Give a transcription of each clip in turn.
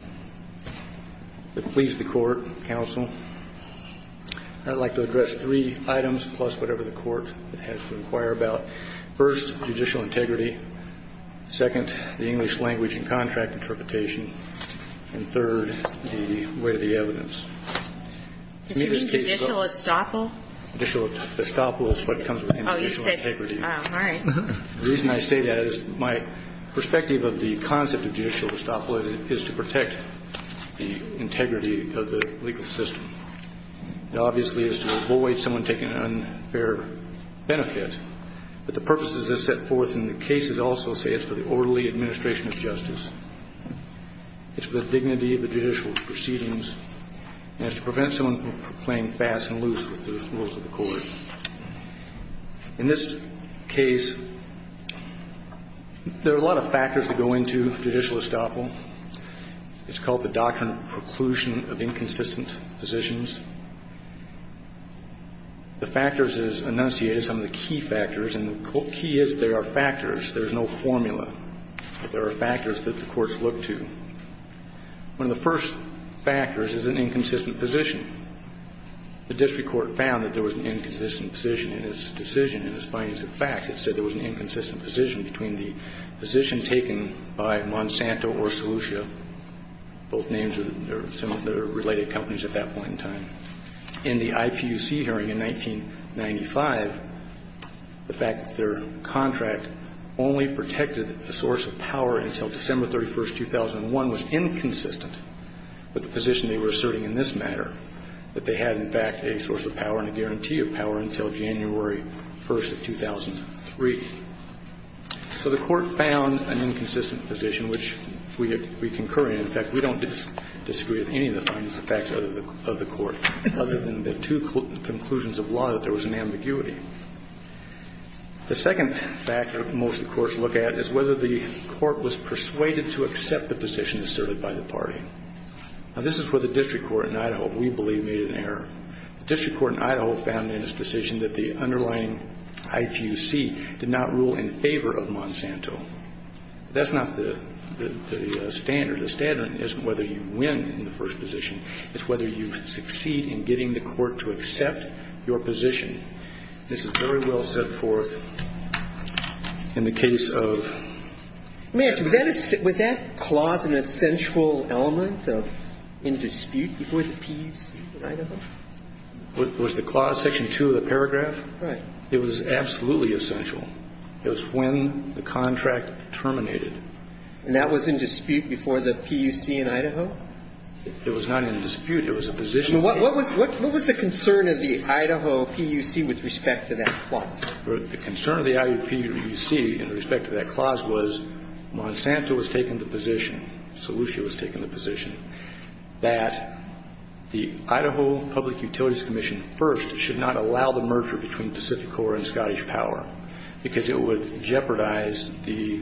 I would like to address three items, plus whatever the court has to inquire about. First, judicial integrity. Second, the English language and contract interpretation. And third, the weight of the evidence. Did you mean judicial estoppel? Judicial estoppel is what comes with judicial integrity. Oh, you said, all right. The reason I say that is my perspective of the concept of judicial estoppel is to protect the integrity of the legal system. It obviously is to avoid someone taking an unfair benefit. But the purposes that are set forth in the cases also say it's for the orderly administration of justice, it's for the dignity of the judicial proceedings, and it's to prevent someone from playing fast and loose with the rules of the court. In this case, there are a lot of factors that go into judicial estoppel. It's called the doctrine of preclusion of inconsistent positions. The factors that are enunciated are some of the key factors, and the key is there are factors. There is no formula, but there are factors that the courts look to. One of the first factors is an inconsistent position. The district court found that there was an inconsistent position in its decision, in its findings and facts. It said there was an inconsistent position between the position taken by Monsanto or Solucia, both names that are related companies at that point in time. In the IPUC hearing in 1995, the fact that their contract only protected a source of power until December 31, 2001 was inconsistent with the position they were asserting in this matter, that they had, in fact, a source of power and a guarantee of power until January 1st of 2003. So the court found an inconsistent position, which we concur in. In fact, we don't disagree with any of the findings and facts of the court, other than the two conclusions of law that there was an ambiguity. The second factor most of the courts look at is whether the court was persuaded to accept the position asserted by the party. Now, this is where the district court in Idaho, we believe, made an error. The district court in Idaho found in its decision that the underlying IPUC did not rule in favor of Monsanto. That's not the standard. The standard isn't whether you win in the first position. It's whether you succeed in getting the court to accept your position. This is very well set forth in the case of ---- Sotomayor, was that clause an essential element in dispute before the PUC in Idaho? Was the clause section 2 of the paragraph? Right. It was absolutely essential. It was when the contract terminated. And that was in dispute before the PUC in Idaho? It was not in dispute. It was a position. What was the concern of the Idaho PUC with respect to that clause? The concern of the IUPC with respect to that clause was Monsanto was taking the position, Solucia was taking the position, that the Idaho Public Utilities Commission, first, should not allow the merger between Pacific Core and Scottish Power because it would jeopardize the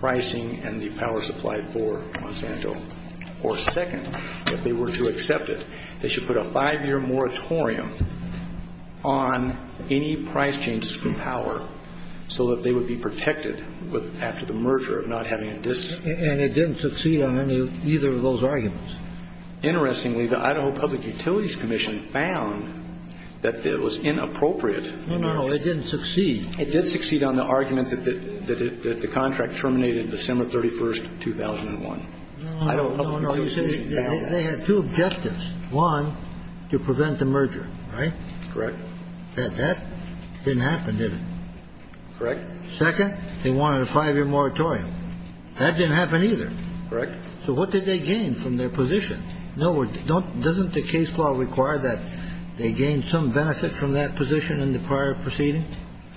pricing and the power supply for Monsanto. Or second, if they were to accept it, they should put a five-year moratorium on any price changes for power so that they would be protected after the merger of not having a dispute. And it didn't succeed on any of either of those arguments? Interestingly, the Idaho Public Utilities Commission found that it was inappropriate No, no, no. It didn't succeed. It did succeed on the argument that the contract terminated December 31, 2001. No, no, no. They had two objectives. One, to prevent the merger, right? Correct. That didn't happen, did it? Correct. Second, they wanted a five-year moratorium. That didn't happen either. Correct. So what did they gain from their position? Doesn't the case law require that they gain some benefit from that position in the prior proceeding?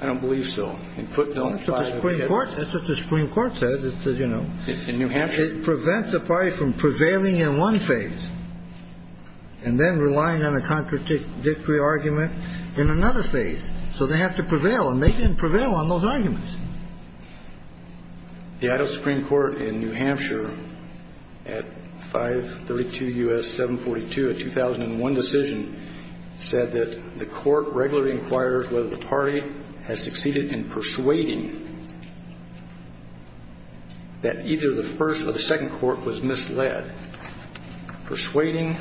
I don't believe so. That's what the Supreme Court says. In New Hampshire? It prevents the party from prevailing in one phase and then relying on a contradictory argument in another phase. So they have to prevail, and they didn't prevail on those arguments. The Idaho Supreme Court in New Hampshire at 532 U.S. 742, a 2001 decision, said that the court regularly inquires whether the party has succeeded in persuading that either the first or the second court was misled, persuading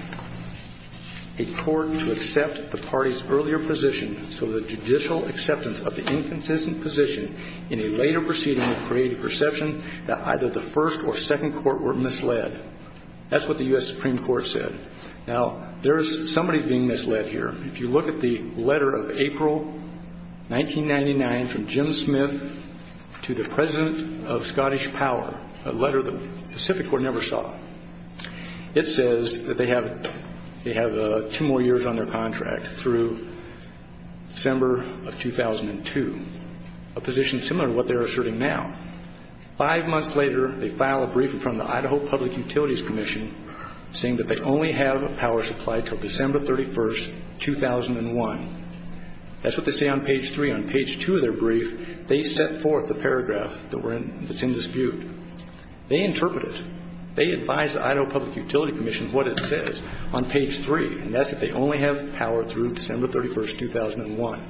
a court to accept the party's earlier position so the judicial acceptance of the inconsistent position in a later proceeding would create a perception that either the first or second court were misled. That's what the U.S. Supreme Court said. Now, there is somebody being misled here. If you look at the letter of April 1999 from Jim Smith to the President of Scottish Power, a letter the Pacific Court never saw, it says that they have two more years on their contract through December of 2002, a position similar to what they're asserting now. Five months later, they file a briefing from the Idaho Public Utilities Commission saying that they only have a power supply until December 31, 2001. That's what they say on page 3. On page 2 of their brief, they set forth the paragraph that's in dispute. They interpret it. They advise the Idaho Public Utilities Commission what it says on page 3, and that's that they only have power through December 31, 2001.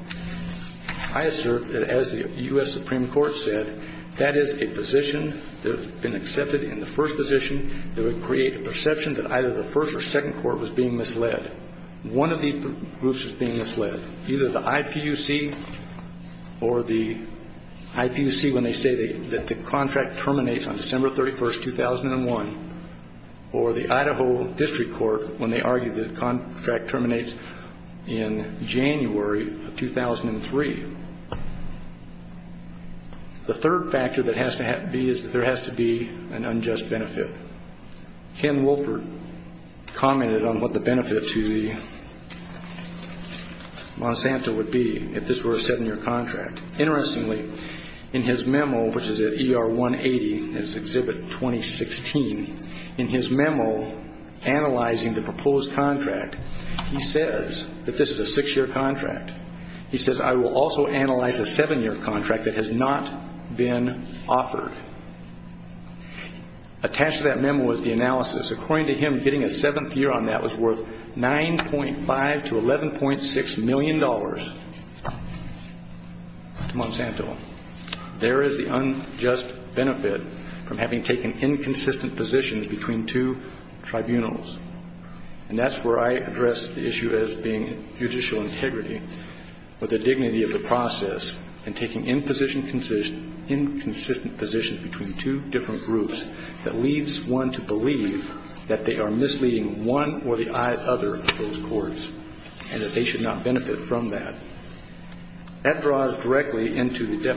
I assert that as the U.S. Supreme Court said, that is a position that has been accepted in the first position that would create a perception that either the first or second court was being misled. One of these groups was being misled, either the IPUC or the IPUC when they say that the contract terminates on December 31, 2001, or the Idaho District Court when they argue that the contract terminates in January of 2003. The third factor that has to be is that there has to be an unjust benefit. Ken Wolford commented on what the benefit to the Monsanto would be if this were a seven-year contract. Interestingly, in his memo, which is at ER 180, it's Exhibit 2016, in his memo analyzing the proposed contract, he says that this is a six-year contract. He says, I will also analyze a seven-year contract that has not been offered. Attached to that memo is the analysis. According to him, getting a seventh year on that was worth $9.5 to $11.6 million to Monsanto. There is the unjust benefit from having taken inconsistent positions between two tribunals, and that's where I address the issue as being judicial integrity, but the dignity of the process in taking inconsistent positions between two different groups that leads one to believe that they are misleading one or the other of those courts and that they should not benefit from that. That draws directly into the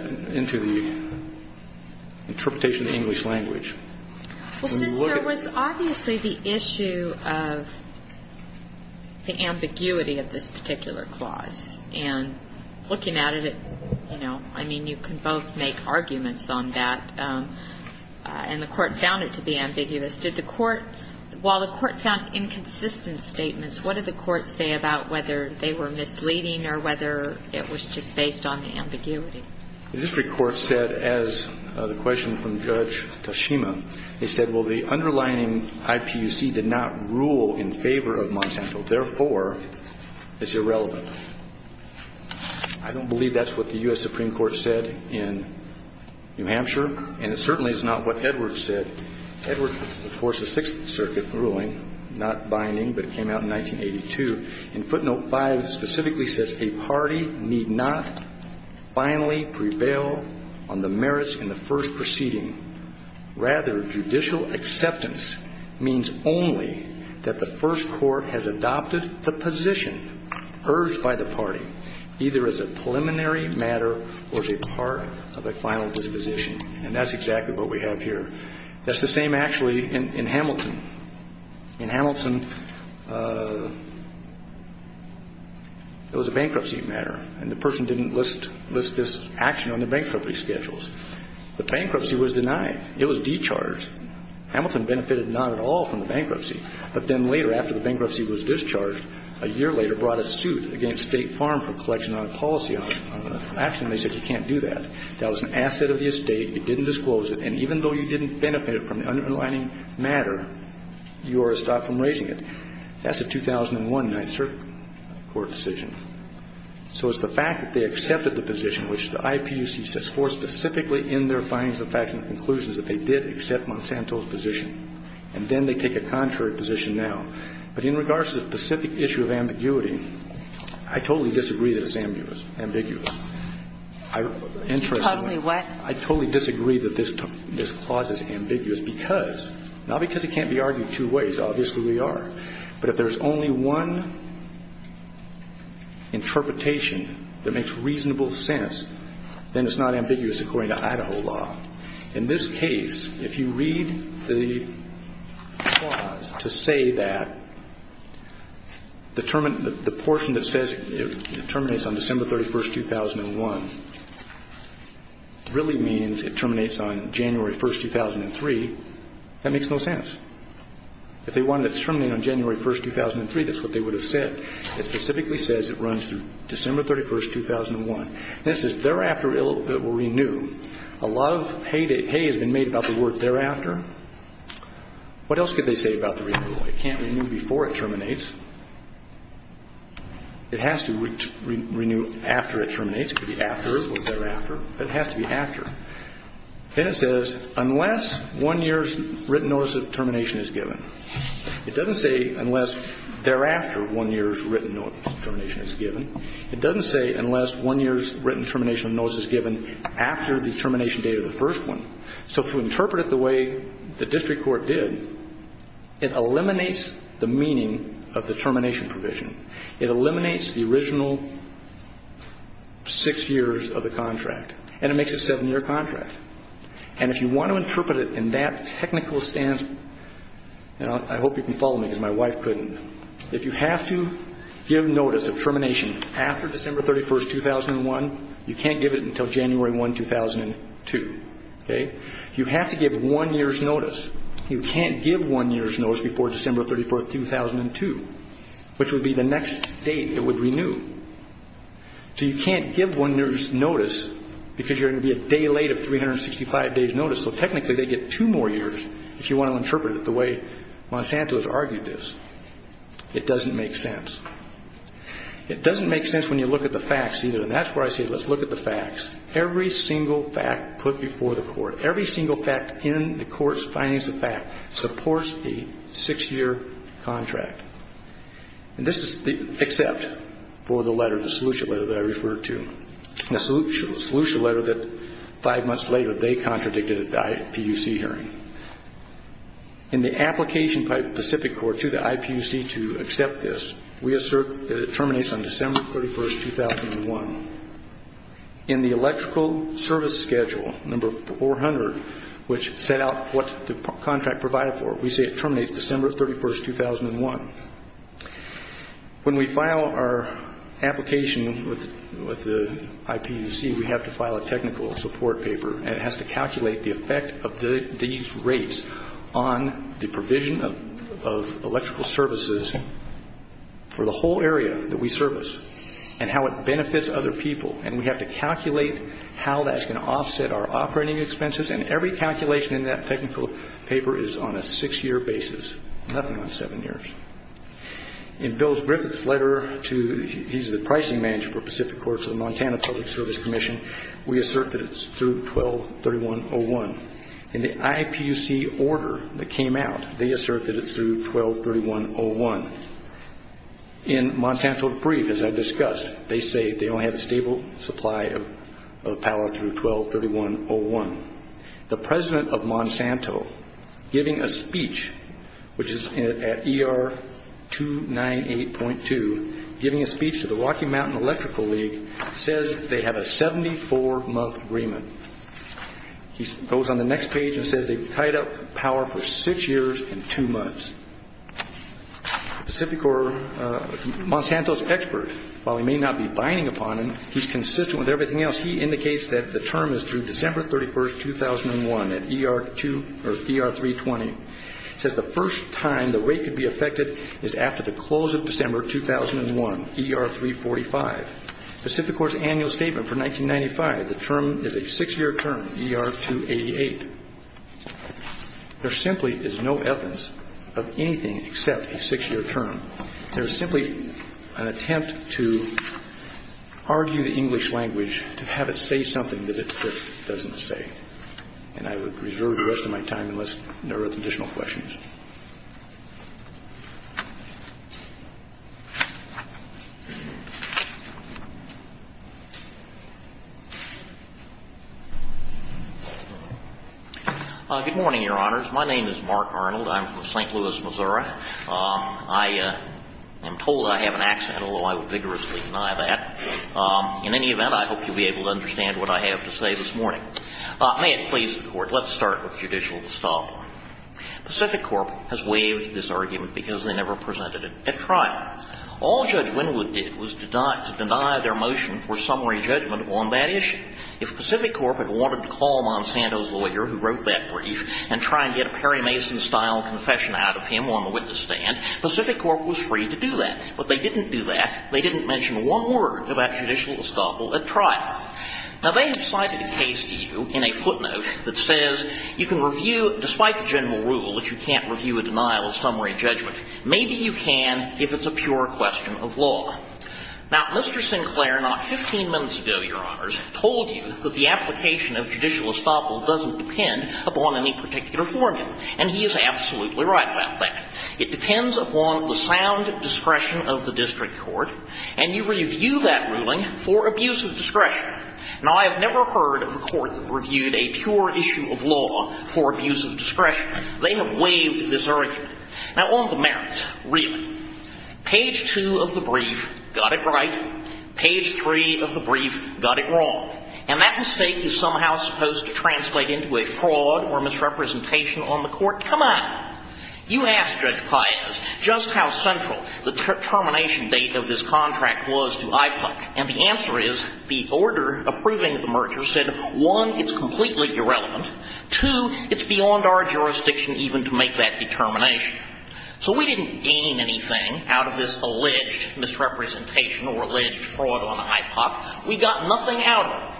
interpretation of the English language. When you look at it. Well, since there was obviously the issue of the ambiguity of this particular clause, and looking at it, you know, I mean, you can both make arguments on that, and the Court found it to be ambiguous. Did the Court – while the Court found inconsistent statements, what did the Court say about whether they were misleading or whether it was just based on the ambiguity? The district court said, as the question from Judge Toshima, they said, well, the underlying IPUC did not rule in favor of Monsanto. Therefore, it's irrelevant. I don't believe that's what the U.S. Supreme Court said in New Hampshire, and it certainly is not what Edwards said. Edwards enforced the Sixth Circuit ruling, not binding, but it came out in 1982. And footnote 5 specifically says, A party need not finally prevail on the merits in the first proceeding. Rather, judicial acceptance means only that the first court has adopted the position urged by the party, either as a preliminary matter or as a part of a final disposition. And that's exactly what we have here. That's the same, actually, in Hamilton. In Hamilton, it was a bankruptcy matter, and the person didn't list this action on the bankruptcy schedules. The bankruptcy was denied. It was discharged. Hamilton benefited not at all from the bankruptcy. But then later, after the bankruptcy was discharged, a year later brought a suit against State Farm for collection on a policy action. They said you can't do that. That was an asset of the estate. It didn't disclose it. And even though you didn't benefit from the underlining matter, you are stopped from raising it. That's a 2001 Ninth Circuit court decision. So it's the fact that they accepted the position, which the IPUC says, for specifically in their findings of fact and conclusions, that they did accept Monsanto's position. And then they take a contrary position now. But in regards to the specific issue of ambiguity, I totally disagree that it's ambiguous. I totally disagree that this clause is ambiguous because, not because it can't be argued two ways. Obviously, we are. But if there's only one interpretation that makes reasonable sense, then it's not ambiguous according to Idaho law. In this case, if you read the clause to say that the portion that says it terminates on December 31st, 2001 really means it terminates on January 1st, 2003, that makes no sense. If they wanted it to terminate on January 1st, 2003, that's what they would have said. It specifically says it runs through December 31st, 2001. This is thereafter it will renew. A lot of hay has been made about the word thereafter. What else could they say about the renewal? It can't renew before it terminates. It has to renew after it terminates. It could be after or thereafter. But it has to be after. And it says unless one year's written notice of termination is given. It doesn't say unless thereafter one year's written notice of termination is given. It doesn't say unless one year's written termination of notice is given after the termination date of the first one. So if we interpret it the way the district court did, it eliminates the meaning of the termination provision. It eliminates the original six years of the contract. And it makes a seven-year contract. And if you want to interpret it in that technical stance, I hope you can follow me because my wife couldn't. If you have to give notice of termination after December 31st, 2001, you can't give it until January 1, 2002. Okay? You have to give one year's notice. You can't give one year's notice before December 34th, 2002, which would be the next date it would renew. So you can't give one year's notice because you're going to be a day late of 365 days' notice. So technically they get two more years if you want to interpret it the way Monsanto has argued this. It doesn't make sense. It doesn't make sense when you look at the facts either. And that's why I say let's look at the facts. Every single fact put before the court, every single fact in the court's findings of fact supports a six-year contract. And this is except for the letter, the solution letter that I referred to, the solution letter that five months later they contradicted at the IPUC hearing. In the application by Pacific Court to the IPUC to accept this, we assert that it terminates on December 31, 2001. In the electrical service schedule, number 400, which set out what the contract provided for, we say it terminates December 31, 2001. When we file our application with the IPUC, we have to file a technical support paper, and it has to calculate the effect of these rates on the provision of electrical services for the whole area that we service and how it benefits other people. And we have to calculate how that's going to offset our operating expenses, and every calculation in that technical paper is on a six-year basis, nothing on seven years. In Bill Griffith's letter to the pricing manager for Pacific Court to the Montana Public Service Commission, we assert that it's through 12-31-01. In the IPUC order that came out, they assert that it's through 12-31-01. In Monsanto's brief, as I discussed, they say they only have a stable supply of power through 12-31-01. The president of Monsanto, giving a speech, which is at ER 298.2, giving a speech to the Rocky Mountain Electrical League, says they have a 74-month agreement. He goes on the next page and says they've tied up power for six years and two months. Monsanto's expert, while he may not be binding upon them, he's consistent with everything else. He indicates that the term is through December 31, 2001, at ER 320. He says the first time the rate could be affected is after the close of December 2001, ER 345. Pacific Court's annual statement for 1995, the term is a six-year term, ER 288. There simply is no evidence of anything except a six-year term. There is simply an attempt to argue the English language, to have it say something that it just doesn't say. And I would reserve the rest of my time unless there are additional questions. MR. ARNOLD. Good morning, Your Honors. My name is Mark Arnold. I'm from St. Louis, Missouri. I am told I have an accent, although I would vigorously deny that. In any event, I hope you'll be able to understand what I have to say this morning. May it please the Court, let's start with judicial distol. Pacific Corp. has waived this argument because they never presented it at trial. All Judge Winwood did was to deny their motion for summary judgment on that issue. If Pacific Corp. had wanted to call Monsanto's lawyer who wrote that brief and try and get a Perry Mason-style confession out of him on the witness stand, Pacific Corp. was free to do that. But they didn't do that. They didn't mention one word about judicial distol at trial. Now, they have cited a case to you in a footnote that says you can review, despite the general rule, that you can't review a denial of summary judgment. Maybe you can if it's a pure question of law. Now, Mr. Sinclair, not 15 minutes ago, Your Honors, told you that the application of judicial estoppel doesn't depend upon any particular formula. And he is absolutely right about that. It depends upon the sound discretion of the district court. And you review that ruling for abuse of discretion. Now, I have never heard of a court that reviewed a pure issue of law for abuse of discretion. They have waived this argument. Now, on the merits, really, page 2 of the brief got it right. Page 3 of the brief got it wrong. And that mistake is somehow supposed to translate into a fraud or misrepresentation on the Court. Come on. You asked Judge Paez just how central the termination date of this contract was to IPOC. And the answer is the order approving the merger said, one, it's completely irrelevant. Two, it's beyond our jurisdiction even to make that determination. So we didn't gain anything out of this alleged misrepresentation or alleged fraud on IPOC. We got nothing out of it.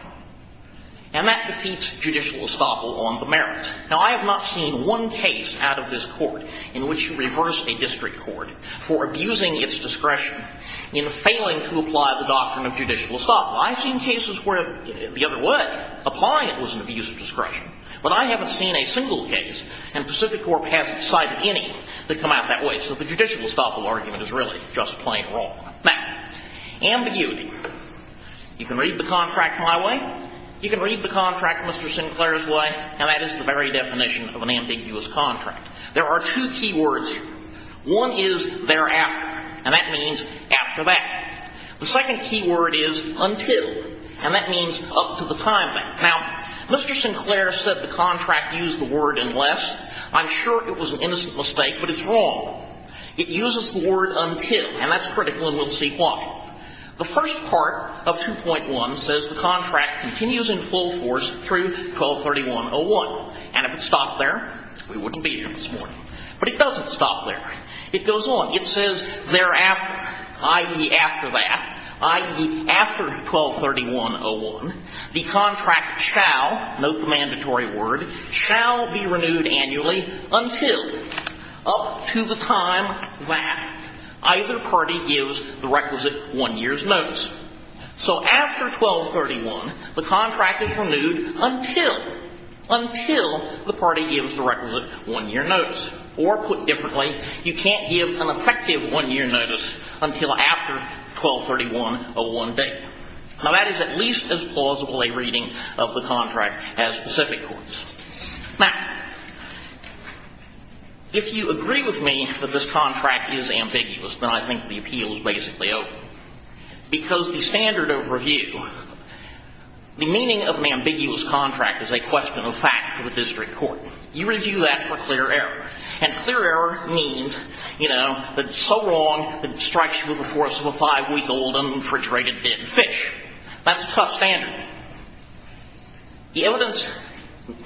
And that defeats judicial estoppel on the merits. Now, I have not seen one case out of this court in which you reverse a district court for abusing its discretion in failing to apply the doctrine of judicial estoppel. I've seen cases where the other way, applying it was an abuse of discretion. But I haven't seen a single case, and Pacific Corp hasn't cited any, that come out that way. So the judicial estoppel argument is really just plain wrong. Now, ambiguity. You can read the contract my way. You can read the contract Mr. Sinclair's way. And that is the very definition of an ambiguous contract. There are two key words here. One is thereafter. And that means after that. The second key word is until. And that means up to the time that. Now, Mr. Sinclair said the contract used the word unless. I'm sure it was an innocent mistake, but it's wrong. It uses the word until. And that's critical, and we'll see why. The first part of 2.1 says the contract continues in full force through 1231.01. And if it stopped there, we wouldn't be here this morning. But it doesn't stop there. It goes on. It says thereafter, i.e., after that, i.e., after 1231.01, the contract shall, note the mandatory word, shall be renewed annually until, up to the time that either party gives the requisite one year's notice. So after 1231, the contract is renewed until, until the party gives the requisite one year notice. Or put differently, you can't give an effective one year notice until after 1231.01 date. Now, that is at least as plausible a reading of the contract as specific courts. Now, if you agree with me that this contract is ambiguous, then I think the appeal is basically over. Because the standard of review, the meaning of an ambiguous contract is a question of fact for the district court. You review that for clear error. And clear error means, you know, that it's so wrong that it strikes you with the force of a five-week-old, unfrigerated, dead fish. That's a tough standard. The evidence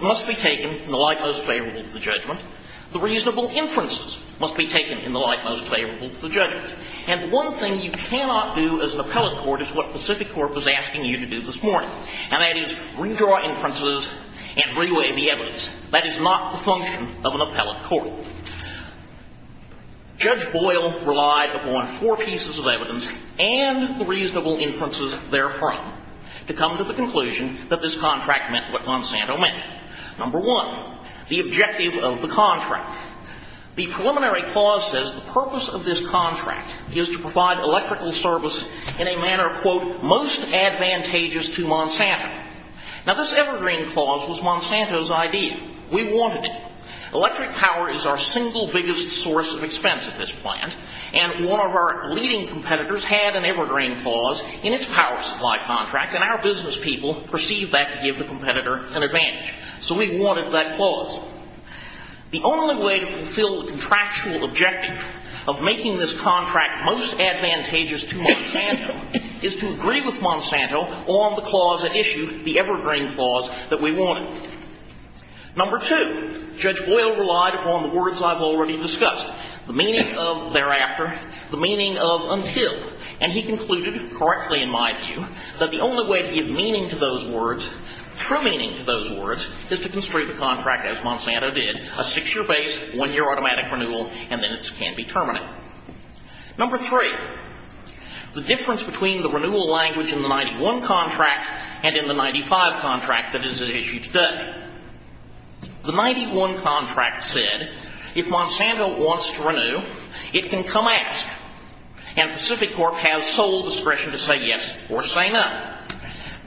must be taken in the light most favorable to the judgment. The reasonable inferences must be taken in the light most favorable to the judgment. And the one thing you cannot do as an appellate court is what Pacific Court was asking you to do this morning. And that is redraw inferences and reweigh the evidence. That is not the function of an appellate court. Judge Boyle relied upon four pieces of evidence and the reasonable inferences therefrom to come to the conclusion that this contract meant what Monsanto meant. Number one, the objective of the contract. The preliminary clause says the purpose of this contract is to provide electrical service in a manner, quote, most advantageous to Monsanto. Now, this evergreen clause was Monsanto's idea. We wanted it. Electric power is our single biggest source of expense at this plant, and one of our leading competitors had an evergreen clause in its power supply contract, and our business people perceived that to give the competitor an advantage. So we wanted that clause. The only way to fulfill the contractual objective of making this contract most advantageous to Monsanto is to agree with Monsanto on the clause that issued the evergreen clause that we wanted. Number two, Judge Boyle relied upon the words I've already discussed, the meaning of thereafter, the meaning of until. And he concluded correctly in my view that the only way to give meaning to those words, true meaning to those words, is to construe the contract as Monsanto did, a six-year base, one-year automatic renewal, and then it can be terminated. Number three, the difference between the renewal language in the 91 contract and in the 95 contract that is at issue today. The 91 contract said if Monsanto wants to renew, it can come ask, and Pacific Corp has sole discretion to say yes or say no.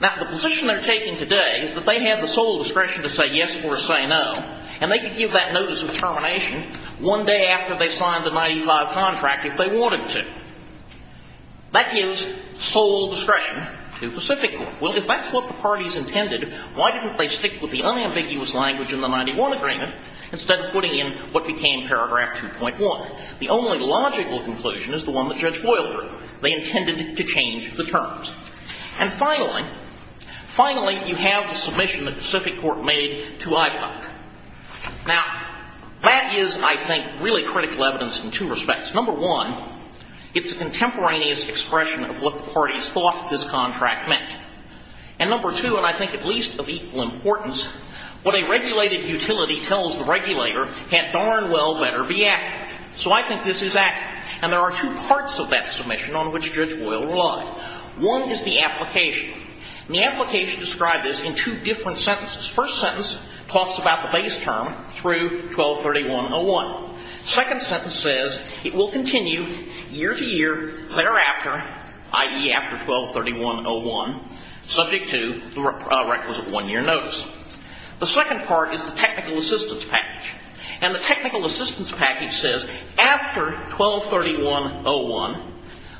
Now, the position they're taking today is that they have the sole discretion to say yes or say no, and they could give that notice of termination one day after they signed the 95 contract if they wanted to. That gives sole discretion to Pacific Corp. Well, if that's what the parties intended, why didn't they stick with the unambiguous language in the 91 agreement instead of putting in what became paragraph 2.1? The only logical conclusion is the one that Judge Boyle drew. They intended to change the terms. And finally, finally, you have the submission that Pacific Corp made to IPOC. Now, that is, I think, really critical evidence in two respects. Number one, it's a contemporaneous expression of what the parties thought this contract meant. And number two, and I think at least of equal importance, what a regulated utility tells the regulator can't darn well better be accurate. So I think this is accurate, and there are two parts of that submission on which Judge Boyle relied. One is the application. And the application described this in two different sentences. The first sentence talks about the base term through 1231.01. The second sentence says it will continue year to year thereafter, i.e., after 1231.01, subject to the requisite one-year notice. The second part is the technical assistance package. And the technical assistance package says after 1231.01,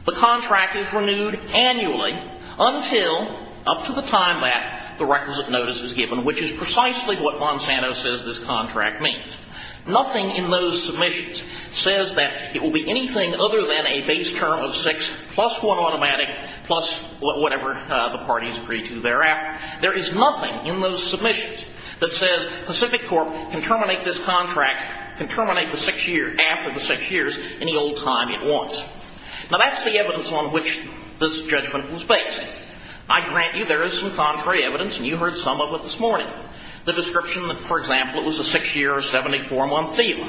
the contract is renewed annually until up to the time that the requisite notice is given, which is precisely what Monsanto says this contract means. Nothing in those submissions says that it will be anything other than a base term of six plus one automatic plus whatever the parties agree to thereafter. There is nothing in those submissions that says Pacific Corp. can terminate this contract, can terminate the six years, after the six years, any old time it wants. Now, that's the evidence on which this judgment was based. I grant you there is some contrary evidence, and you heard some of it this morning. The description, for example, it was a six-year or 74-month fee.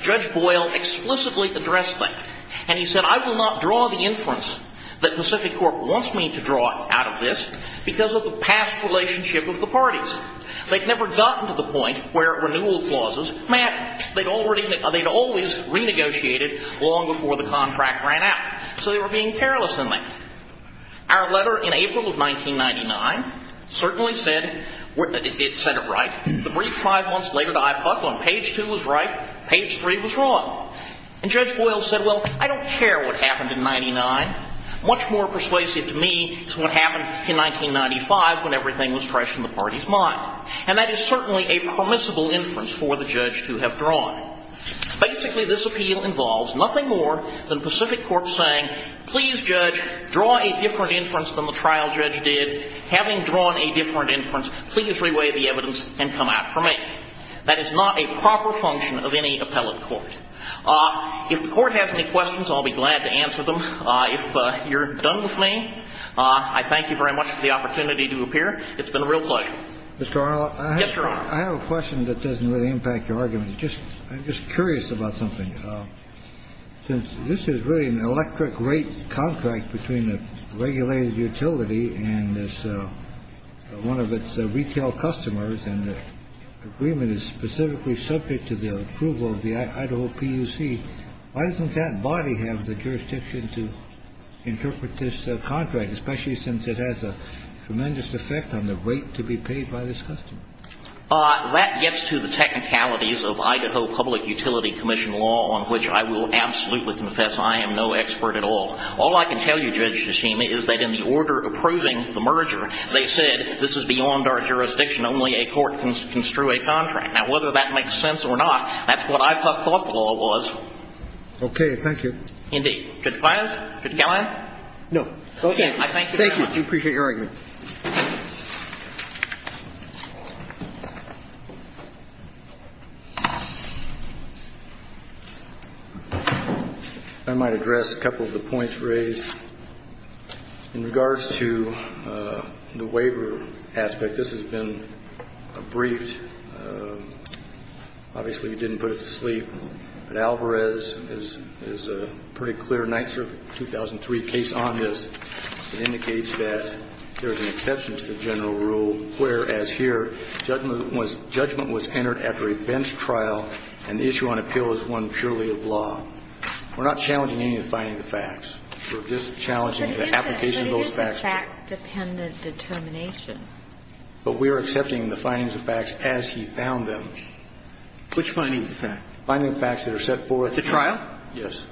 Judge Boyle explicitly addressed that. And he said, I will not draw the inference that Pacific Corp. wants me to draw out of this because of the past relationship of the parties. They'd never gotten to the point where renewal clauses, man, they'd always renegotiated long before the contract ran out. So they were being careless in that. Our letter in April of 1999 certainly said it right. The brief five months later to IPUC on page two was right, page three was wrong. And Judge Boyle said, well, I don't care what happened in 99. Much more persuasive to me is what happened in 1995 when everything was fresh in the party's mind. And that is certainly a permissible inference for the judge to have drawn. Basically, this appeal involves nothing more than Pacific Corp. saying, please, judge, draw a different inference than the trial judge did. Having drawn a different inference, please reweigh the evidence and come out for me. That is not a proper function of any appellate court. If the court has any questions, I'll be glad to answer them. If you're done with me, I thank you very much for the opportunity to appear. It's been a real pleasure. Mr. Arnold. Yes, Your Honor. I have a question that doesn't really impact your argument. I'm just curious about something. Since this is really an electric rate contract between a regulated utility and one of its retail customers, and the agreement is specifically subject to the approval of the Idaho PUC, why doesn't that body have the jurisdiction to interpret this contract, especially since it has a tremendous effect on the rate to be paid by this customer? That gets to the technicalities of Idaho Public Utility Commission law, on which I will absolutely confess I am no expert at all. All I can tell you, Judge Nishima, is that in the order approving the merger, they said this is beyond our jurisdiction. Only a court can construe a contract. Now, whether that makes sense or not, that's what I thought the law was. Okay. Thank you. Indeed. Judge Files? Judge Callahan? No. Okay. I thank you very much. Thank you. I appreciate your argument. Thank you. I might address a couple of the points raised. In regards to the waiver aspect, this has been briefed. Obviously, we didn't put it to sleep. But Alvarez is a pretty clear Night Circuit 2003 case on this. It indicates that there is an exception to the general rule where, as here, judgment was entered after a bench trial, and the issue on appeal is one purely of law. We're not challenging any of the findings of facts. We're just challenging the application of those facts. But this is fact-dependent determination. But we are accepting the findings of facts as he found them. Which findings of facts? Findings of facts that are set forth. At the trial? Yes.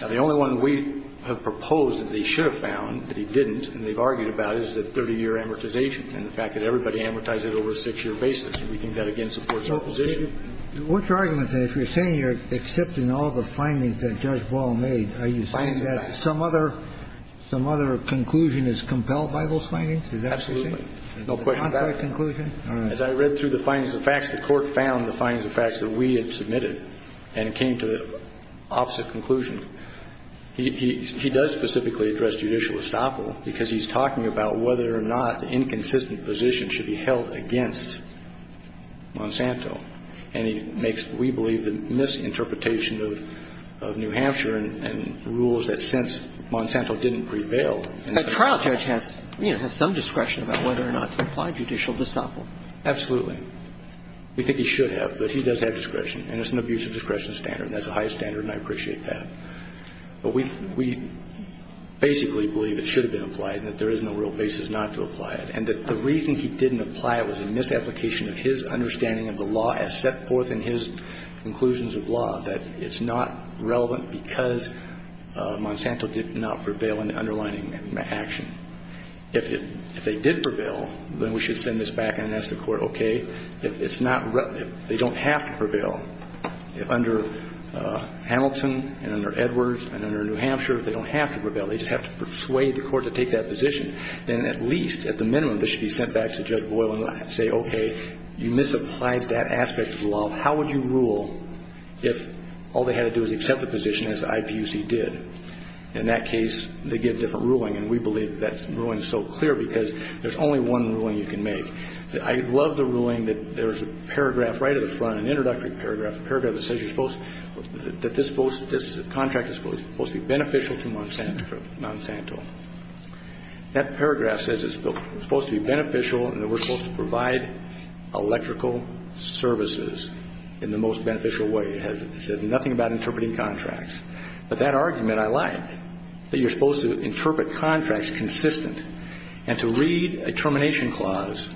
Now, the only one we have proposed that they should have found that he didn't, and they've argued about, is the 30-year amortization and the fact that everybody amortized it over a six-year basis. And we think that, again, supports your position. So what's your argument, then, if you're saying you're accepting all the findings that Judge Ball made? Are you saying that some other conclusion is compelled by those findings? Is that what you're saying? Absolutely. No question about it. Is it a contrary conclusion? As I read through the findings of facts, the Court found the findings of facts that we had submitted, and it came to the opposite conclusion. He does specifically address judicial estoppel because he's talking about whether or not inconsistent positions should be held against Monsanto. And he makes, we believe, the misinterpretation of New Hampshire and rules that since Monsanto didn't prevail. The trial judge has, you know, has some discretion about whether or not to apply judicial estoppel. Absolutely. We think he should have, but he does have discretion. And it's an abusive discretion standard. That's a high standard, and I appreciate that. But we basically believe it should have been applied and that there is no real basis not to apply it, and that the reason he didn't apply it was a misapplication of his understanding of the law as set forth in his conclusions of law, that it's not relevant because Monsanto did not prevail in the underlining action. If it, if they did prevail, then we should send this back and ask the Court, okay, if it's not, if they don't have to prevail, if under Hamilton and under Edwards and under New Hampshire, if they don't have to prevail, they just have to persuade the Court to take that position, then at least, at the minimum, this should be sent back to Judge Boyle and say, okay, you misapplied that aspect of the law. How would you rule if all they had to do was accept the position as the IPUC did? In that case, they get a different ruling, and we believe that ruling is so clear because there's only one ruling you can make. I love the ruling that there's a paragraph right at the front, an introductory paragraph, a paragraph that says you're supposed, that this contract is supposed to be beneficial to Monsanto. That paragraph says it's supposed to be beneficial and that we're supposed to in the most beneficial way. It says nothing about interpreting contracts. But that argument I like, that you're supposed to interpret contracts consistent and to read a termination clause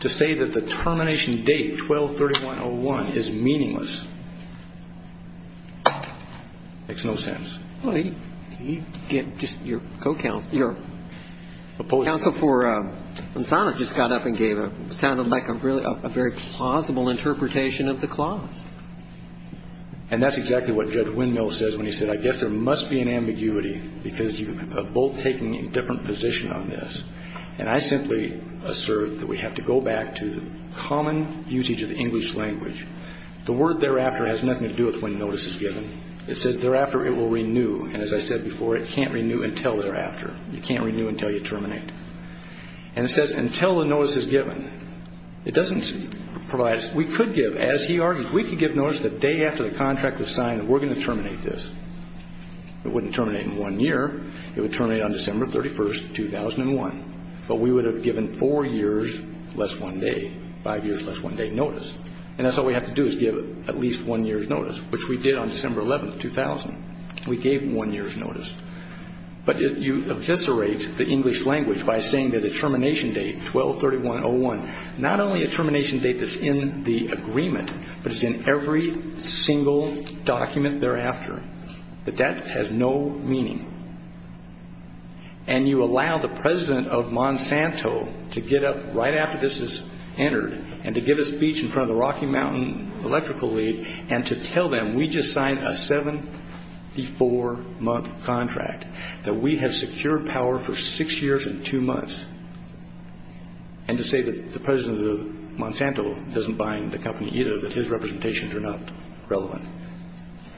to say that the termination date, 12-31-01, is meaningless. Makes no sense. Can you get just your co-counsel, your counsel for Monsanto just got up and gave a, sounded like a very plausible interpretation of the clause. And that's exactly what Judge Windmill says when he said, I guess there must be an ambiguity because you have both taken a different position on this. And I simply assert that we have to go back to the common usage of the English language. The word thereafter has nothing to do with when notice is given. It says thereafter it will renew. And as I said before, it can't renew until thereafter. You can't renew until you terminate. And it says until the notice is given. It doesn't provide us. We could give, as he argues, we could give notice the day after the contract is signed that we're going to terminate this. It wouldn't terminate in one year. It would terminate on December 31, 2001. But we would have given four years less one day, five years less one day notice. And that's all we have to do is give at least one year's notice, which we did on December 11, 2000. We gave one year's notice. But you eviscerate the English language by saying that a termination date, 12-31-01, not only a termination date that's in the agreement, but it's in every single document thereafter. But that has no meaning. And you allow the president of Monsanto to get up right after this is entered and to give a speech in front of the Rocky Mountain Electrical League and to tell them, we just signed a seven-to-four-month contract, that we have secured power for six years and two months, and to say that the president of Monsanto doesn't bind the company either, that his representations are not relevant.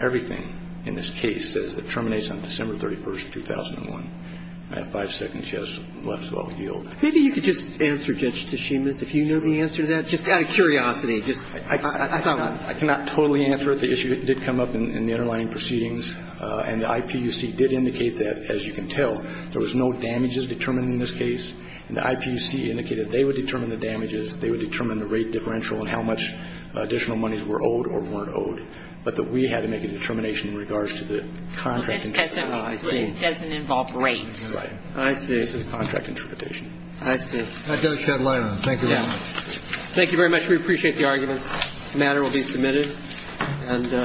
Everything in this case says it terminates on December 31, 2001. I have five seconds left, so I'll yield. Maybe you could just answer, Judge Teshimis, if you know the answer to that, just out of curiosity. I cannot totally answer it. The issue did come up in the underlying proceedings, and the IPUC did indicate that, as you can tell, there was no damages determined in this case. And the IPUC indicated they would determine the damages, they would determine the rate differential and how much additional monies were owed or weren't owed, but that we had to make a determination in regards to the contract interpretation. It doesn't involve rates. I see. This is contract interpretation. I see. That does shed light on it. Thank you very much. Thank you very much. We appreciate the arguments. The matter will be submitted. Thank you.